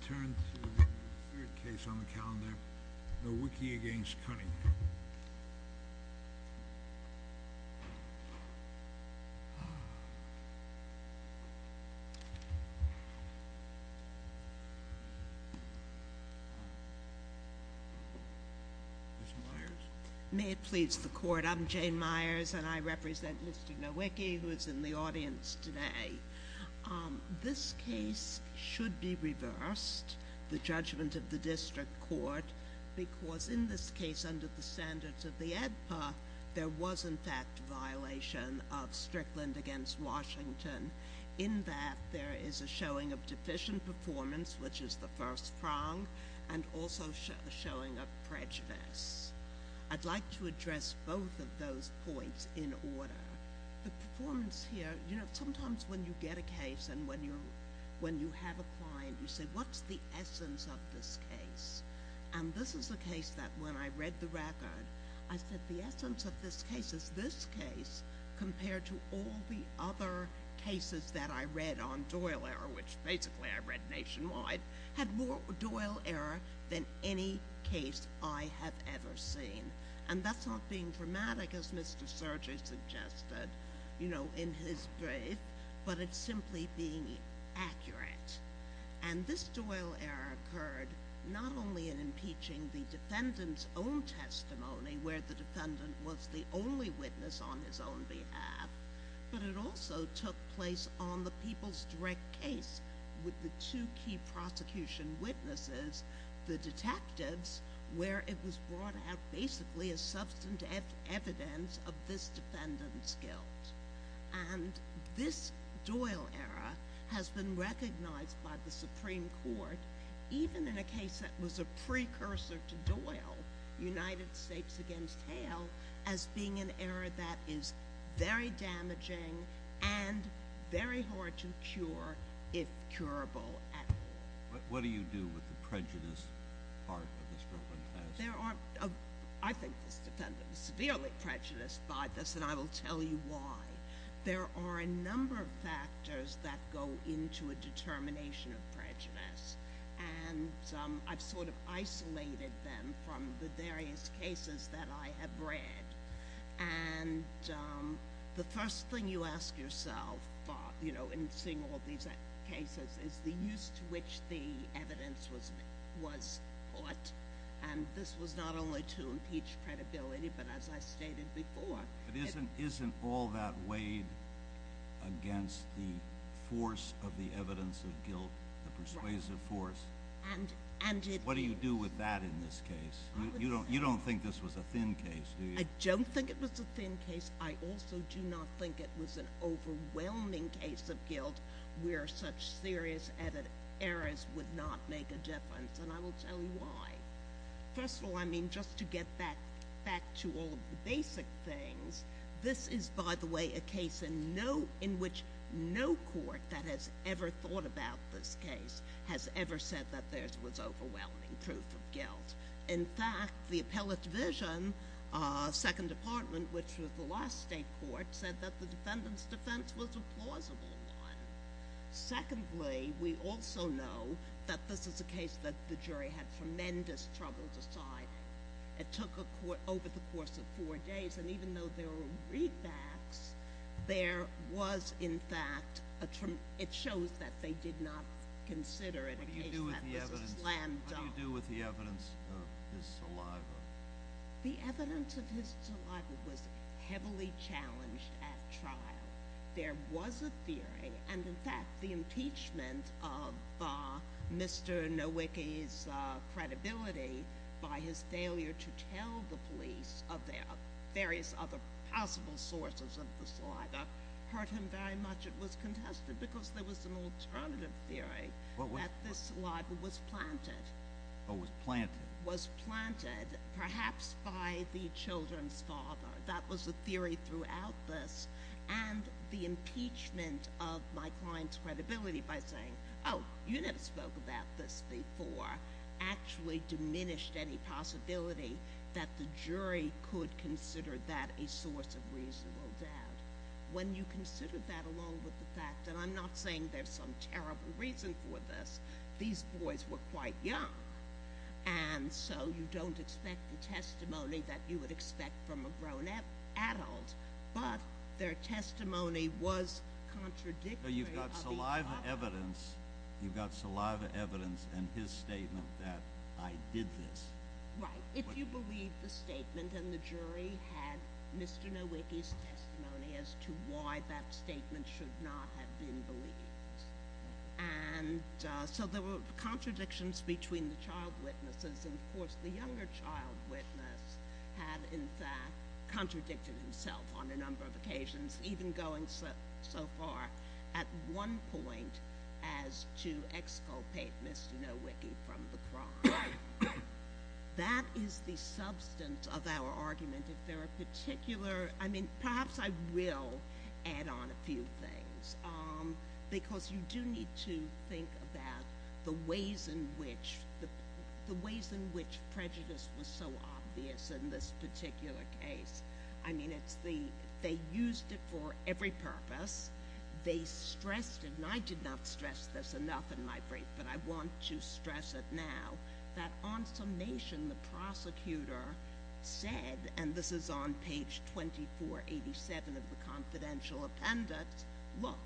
I turn to the third case on the calendar, Nowicki v. Cunningham. May it please the Court, I'm Jane Myers and I represent Mr. Nowicki, who is in the audience today. This case should be reversed, the judgment of the District Court, because in this case under the standards of the ADPA, there was in fact a violation of Strickland v. Washington. In that, there is a showing of deficient performance, which is the first prong, and also a showing of prejudice. I'd like to address both of those points in order. The performance here, you know, sometimes when you get a case and when you have a client, you say, what's the essence of this case? And this is a case that when I read the record, I said the essence of this case is this case compared to all the other cases that I read on Doyle Error, which basically I read nationwide, had more Doyle Error than any case I have ever seen. And that's not being dramatic, as Mr. Sergey suggested, you know, in his brief, but it's simply being accurate. And this Doyle Error occurred not only in impeaching the defendant's own testimony, where the defendant was the only witness on his own behalf, but it also took place on the people's direct case with the two key prosecution witnesses, the detectives, where it was brought out basically as substantive evidence of this defendant's guilt. And this Doyle Error has been recognized by the Supreme Court, even in a case that was a precursor to Doyle, United States against Hale, as being an error that is very damaging and very hard to cure, if curable at all. What do you do with the prejudiced part of this broken case? I think this defendant is severely prejudiced by this, and I will tell you why. There are a number of factors that go into a determination of prejudice, and I've sort of isolated them from the various cases that I have read. And the first thing you ask yourself, you know, in seeing all these cases, is the use to which the evidence was brought. And this was not only to impeach credibility, but as I stated before— But isn't all that weighed against the force of the evidence of guilt, the persuasive force? And it— What do you do with that in this case? You don't think this was a thin case, do you? I don't think it was a thin case. I also do not think it was an overwhelming case of guilt where such serious errors would not make a difference, and I will tell you why. First of all, I mean, just to get back to all the basic things, this is, by the way, a case in which no court that has ever thought about this case has ever said that there was overwhelming proof of guilt. In fact, the Appellate Division, Second Department, which was the last state court, said that the defendant's defense was a plausible one. Secondly, we also know that this is a case that the jury had tremendous trouble deciding. It took a court over the course of four days, and even though there were readbacks, there was, in fact—it shows that they did not consider it a case that was a slam dunk. What do you do with the evidence of his saliva? The evidence of his saliva was heavily challenged at trial. There was a theory, and in fact the impeachment of Mr. Nowicki's credibility by his failure to tell the police of various other possible sources of the saliva hurt him very much. It was contested because there was an alternative theory that this saliva was planted. Was planted? Was planted, perhaps by the children's father. That was the theory throughout this. And the impeachment of my client's credibility by saying, oh, you never spoke about this before, actually diminished any possibility that the jury could consider that a source of reasonable doubt. When you consider that along with the fact—and I'm not saying there's some terrible reason for this—these boys were quite young, and so you don't expect the testimony that you would expect from a grown adult. But their testimony was contradictory— But you've got saliva evidence. You've got saliva evidence and his statement that I did this. Right. If you believe the statement and the jury had Mr. Nowicki's testimony as to why that statement should not have been believed. And so there were contradictions between the child witnesses. And, of course, the younger child witness had, in fact, contradicted himself on a number of occasions, even going so far at one point as to exculpate Mr. Nowicki from the crime. That is the substance of our argument. If there are particular—I mean, perhaps I will add on a few things, because you do need to think about the ways in which prejudice was so obvious in this particular case. I mean, they used it for every purpose. They stressed it—and I did not stress this enough in my brief, but I want to stress it now—that on summation, the prosecutor said—and this is on page 2487 of the confidential appendix— Look,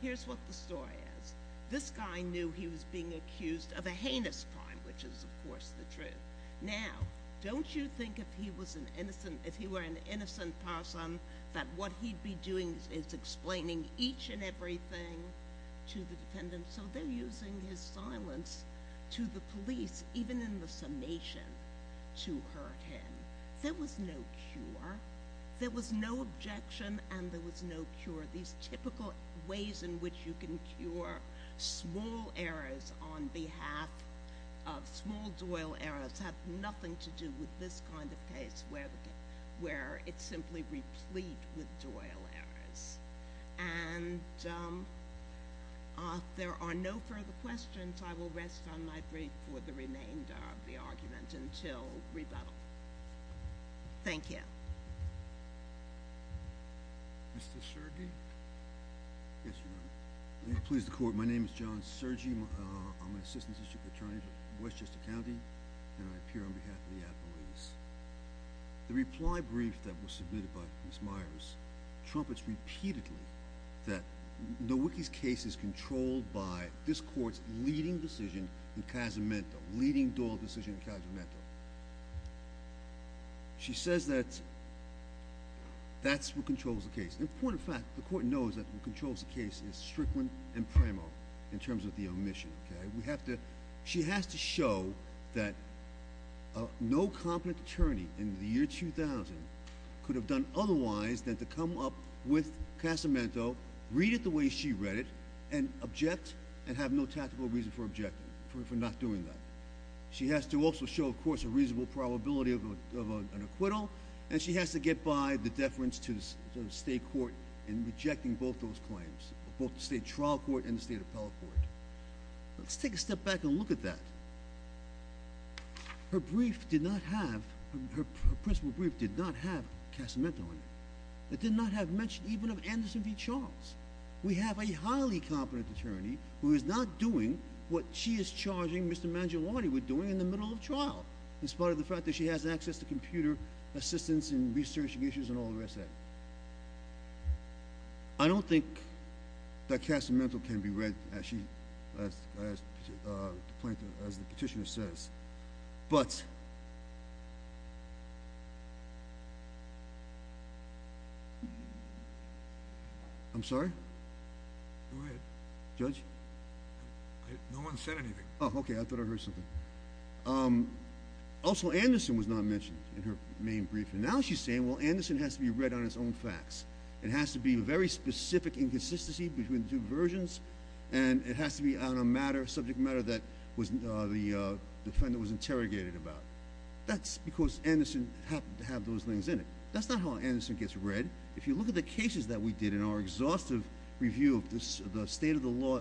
here's what the story is. This guy knew he was being accused of a heinous crime, which is, of course, the truth. Now, don't you think if he were an innocent person that what he'd be doing is explaining each and everything to the defendant? So they're using his silence to the police, even in the summation, to hurt him. There was no cure. There was no objection and there was no cure. These typical ways in which you can cure small errors on behalf of small doyle errors have nothing to do with this kind of case, where it's simply replete with doyle errors. And if there are no further questions, I will rest on my brief for the remainder of the argument until rebuttal. Thank you. Mr. Sergi? Yes, Your Honor. Will you please the court? My name is John Sergi. I'm an assistant district attorney for Westchester County, and I appear on behalf of the Attorneys. The reply brief that was submitted by Ms. Myers trumpets repeatedly that Nowicki's case is controlled by this court's leading decision in Casamento, leading doyle decision in Casamento. She says that that's what controls the case. An important fact, the court knows that what controls the case is Strickland and Premo in terms of the omission. She has to show that no competent attorney in the year 2000 could have done otherwise than to come up with Casamento, read it the way she read it, and object and have no tactical reason for objecting, for not doing that. She has to also show, of course, a reasonable probability of an acquittal, and she has to get by the deference to the state court in rejecting both those claims, both the state trial court and the state appellate court. Let's take a step back and look at that. Her brief did not have, her principal brief did not have Casamento on it. It did not have mention even of Anderson v. Charles. We have a highly competent attorney who is not doing what she is charging Mr. Mangiolotti with doing in the middle of trial, in spite of the fact that she has access to computer assistance and researching issues and all the rest of that. I don't think that Casamento can be read as the petitioner says. I'm sorry? Go ahead. Judge? No one said anything. Oh, okay. I thought I heard something. Also, Anderson was not mentioned in her main brief, and now she's saying, well, Anderson has to be read on its own facts. It has to be a very specific inconsistency between the two versions, and it has to be on a subject matter that the defendant was interrogated about. That's because Anderson happened to have those things in it. That's not how Anderson gets read. If you look at the cases that we did in our exhaustive review of the state of the law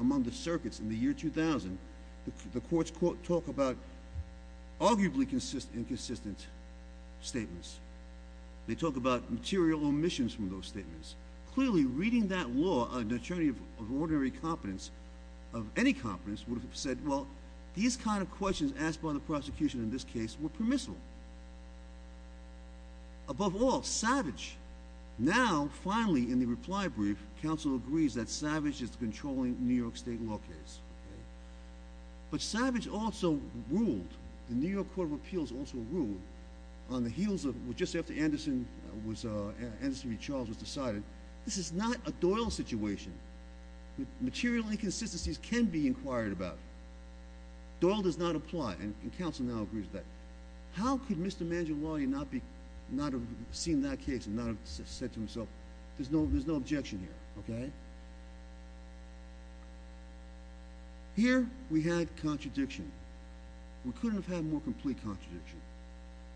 among the circuits in the year 2000, the courts talk about arguably inconsistent statements. They talk about material omissions from those statements. Clearly, reading that law, an attorney of ordinary competence, of any competence, would have said, well, these kind of questions asked by the prosecution in this case were permissible. Above all, Savage. Now, finally, in the reply brief, counsel agrees that Savage is controlling the New York State law case. But Savage also ruled, the New York Court of Appeals also ruled, on the heels of just after Anderson v. Charles was decided, this is not a Doyle situation. Material inconsistencies can be inquired about. Doyle does not apply, and counsel now agrees with that. How could Mr. Mangiolotti not have seen that case and not have said to himself, there's no objection here? Here, we had contradiction. We couldn't have had more complete contradiction.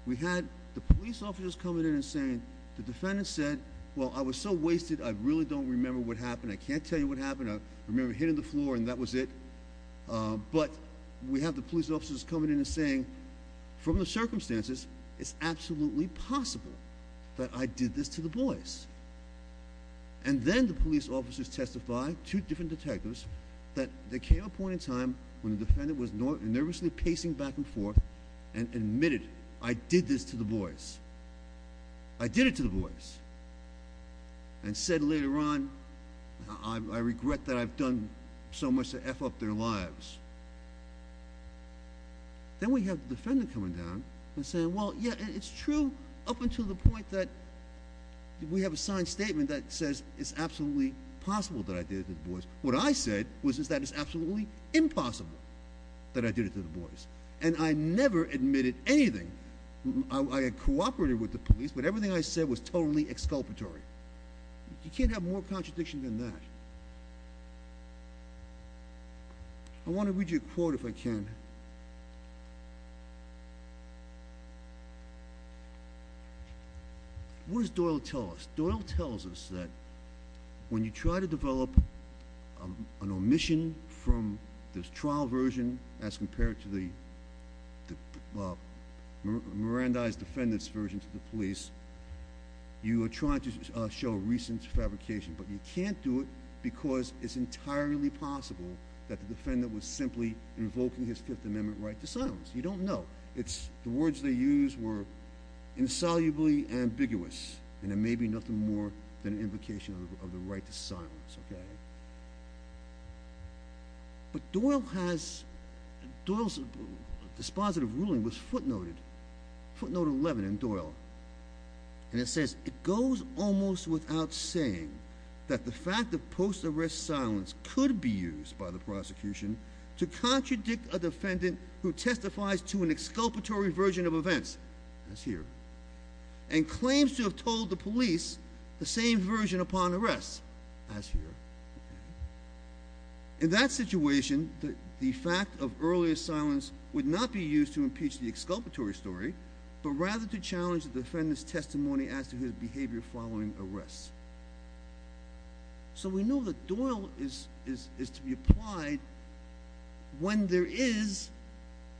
We had the police officers coming in and saying, the defendant said, well, I was so wasted, I really don't remember what happened. I can't tell you what happened. I remember hitting the floor and that was it. But we have the police officers coming in and saying, from the circumstances, it's absolutely possible that I did this to the boys. And then the police officers testify, two different detectives, that there came a point in time when the defendant was nervously pacing back and forth and admitted, I did this to the boys. I did it to the boys. And said later on, I regret that I've done so much to F up their lives. Then we have the defendant coming down and saying, well, yeah, it's true up until the point that we have a signed statement that says it's absolutely possible that I did it to the boys. What I said was that it's absolutely impossible that I did it to the boys. And I never admitted anything. I cooperated with the police, but everything I said was totally exculpatory. You can't have more contradiction than that. I want to read you a quote, if I can. What does Doyle tell us? Doyle tells us that when you try to develop an omission from the trial version as compared to the Mirandai's defendant's version to the police, you are trying to show a recent fabrication. But you can't do it because it's entirely possible that the defendant was simply invoking his Fifth Amendment right to silence. You don't know. The words they used were insolubly ambiguous. And it may be nothing more than an invocation of the right to silence. But Doyle's dispositive ruling was footnoted, footnote 11 in Doyle. And it says, it goes almost without saying that the fact of post-arrest silence could be used by the prosecution to contradict a defendant who testifies to an exculpatory version of events, as here, and claims to have told the police the same version upon arrest, as here. In that situation, the fact of earlier silence would not be used to impeach the exculpatory story, but rather to challenge the defendant's testimony as to his behavior following arrest. So we know that Doyle is to be applied when there is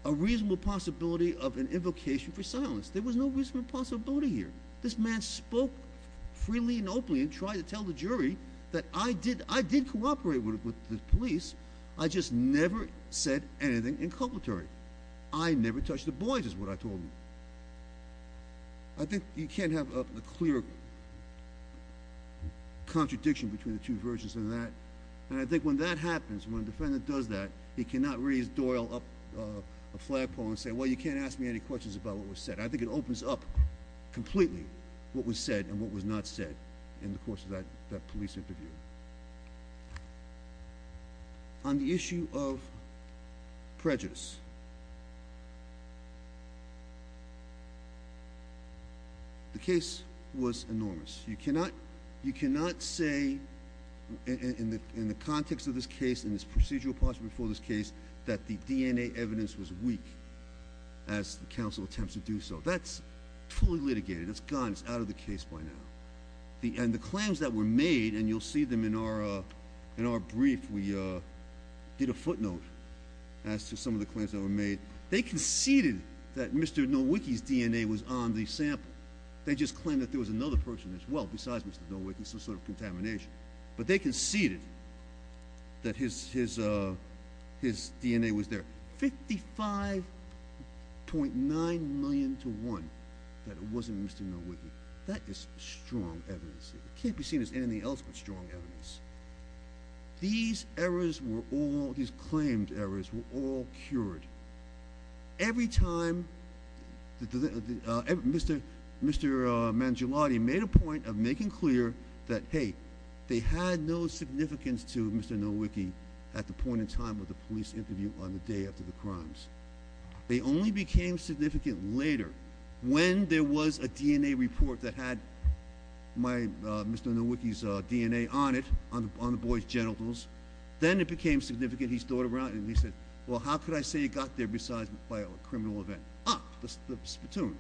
a reasonable possibility of an invocation for silence. There was no reasonable possibility here. This man spoke freely and openly and tried to tell the jury that I did cooperate with the police. I just never said anything inculpatory. I never touched the boys, is what I told him. I think you can't have a clear contradiction between the two versions of that. And I think when that happens, when a defendant does that, he cannot raise Doyle up a flagpole and say, well, you can't ask me any questions about what was said. I think it opens up completely what was said and what was not said in the course of that police interview. On the issue of prejudice, the case was enormous. You cannot say in the context of this case, in this procedural posture before this case, that the DNA evidence was weak as the counsel attempts to do so. That's fully litigated. It's gone. It's out of the case by now. And the claims that were made, and you'll see them in our brief. We did a footnote as to some of the claims that were made. They conceded that Mr. Nowicki's DNA was on the sample. They just claimed that there was another person as well besides Mr. Nowicki, some sort of contamination. But they conceded that his DNA was there. 55.9 million to one that it wasn't Mr. Nowicki. That is strong evidence. It can't be seen as anything else but strong evidence. These errors were all, these claimed errors, were all cured. Every time, Mr. Mangiolotti made a point of making clear that, hey, they had no significance to Mr. Nowicki at the point in time of the police interview on the day after the crimes. They only became significant later, when there was a DNA report that had Mr. Nowicki's DNA on it, on the boy's genitals. Then it became significant. He stood around and he said, well, how could I say it got there besides by a criminal event? Ah, the platoon.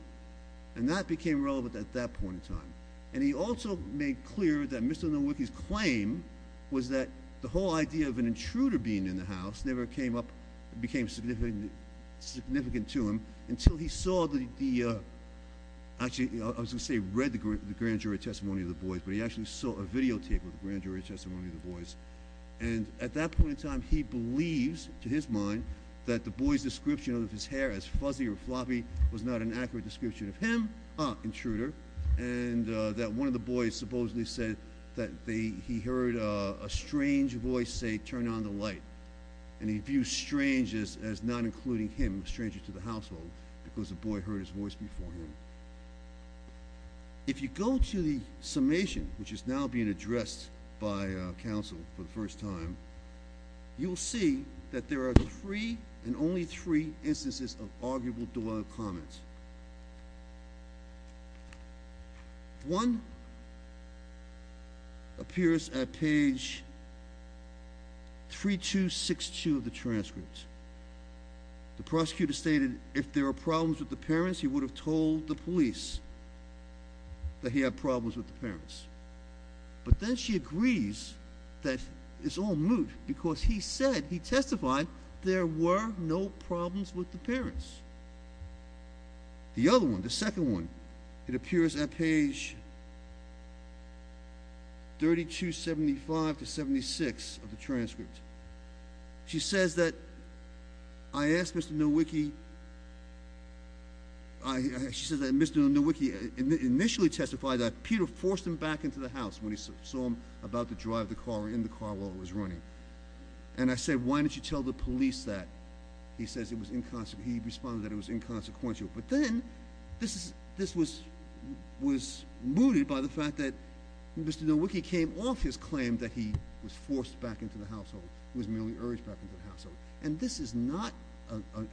And that became relevant at that point in time. And he also made clear that Mr. Nowicki's claim was that the whole idea of an intruder being in the house never came up, became significant to him, until he saw the, actually I was going to say read the grand jury testimony of the boys, but he actually saw a videotape of the grand jury testimony of the boys. And at that point in time, he believes, to his mind, that the boy's description of his hair as fuzzy or floppy was not an accurate description of him. Ah, intruder. And that one of the boys supposedly said that he heard a strange voice say, turn on the light. And he views strange as not including him, a stranger to the household, because the boy heard his voice before him. If you go to the summation, which is now being addressed by, ah, counsel for the first time, you will see that there are three, and only three, instances of arguable duality of comments. One appears at page 3262 of the transcript. The prosecutor stated, if there are problems with the parents, he would have told the police that he had problems with the parents. But then she agrees that it's all moot, because he said, he testified, there were no problems with the parents. The other one, the second one, it appears at page 3275 to 76 of the transcript. She says that, I asked Mr. Nowicki, she says that Mr. Nowicki initially testified that Peter forced him back into the house when he saw him about to drive the car, in the car while it was running. And I said, why didn't you tell the police that? He says it was inconsequential, he responded that it was inconsequential. But then, this was mooted by the fact that Mr. Nowicki came off his claim that he was forced back into the household. He was merely urged back into the household. And this is not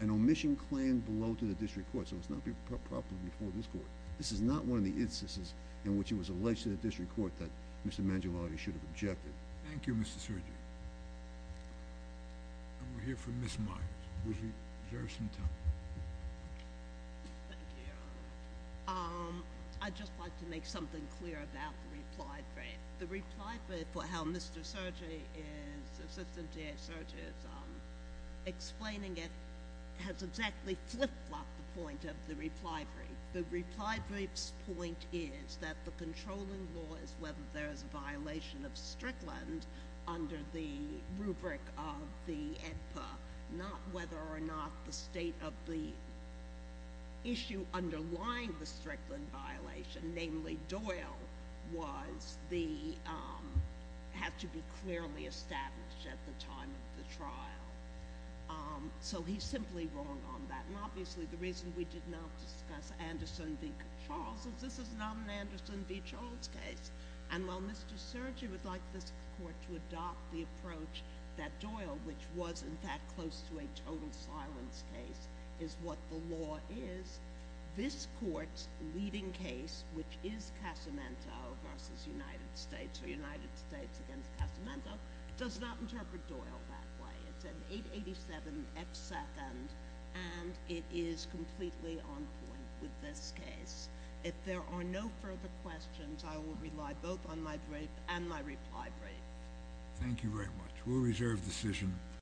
an omission claim below to the district court, so it's not properly before this court. This is not one of the instances in which it was alleged to the district court that Mr. Mangiolotti should have objected. Thank you, Mr. Sergei. And we'll hear from Ms. Myers. Would you reserve some time? Thank you, Your Honor. I'd just like to make something clear about the reply brief. The reply brief for how Mr. Sergei is, Assistant DA Sergei, is explaining it has exactly flip-flopped the point of the reply brief. The reply brief's point is that the controlling law is whether there is a violation of Strickland under the rubric of the EDPA, not whether or not the state of the issue underlying the Strickland violation, namely Doyle, had to be clearly established at the time of the trial. So he's simply wrong on that. And obviously the reason we did not discuss Anderson v. Charles is this is not an Anderson v. Charles case. And while Mr. Sergei would like this court to adopt the approach that Doyle, which was in fact close to a total silence case, is what the law is, this court's leading case, which is Casamento versus United States or United States against Casamento, does not interpret Doyle that way. It's an 887 F second, and it is completely on point with this case. If there are no further questions, I will rely both on my brief and my reply brief. Thank you very much. We'll reserve the decision.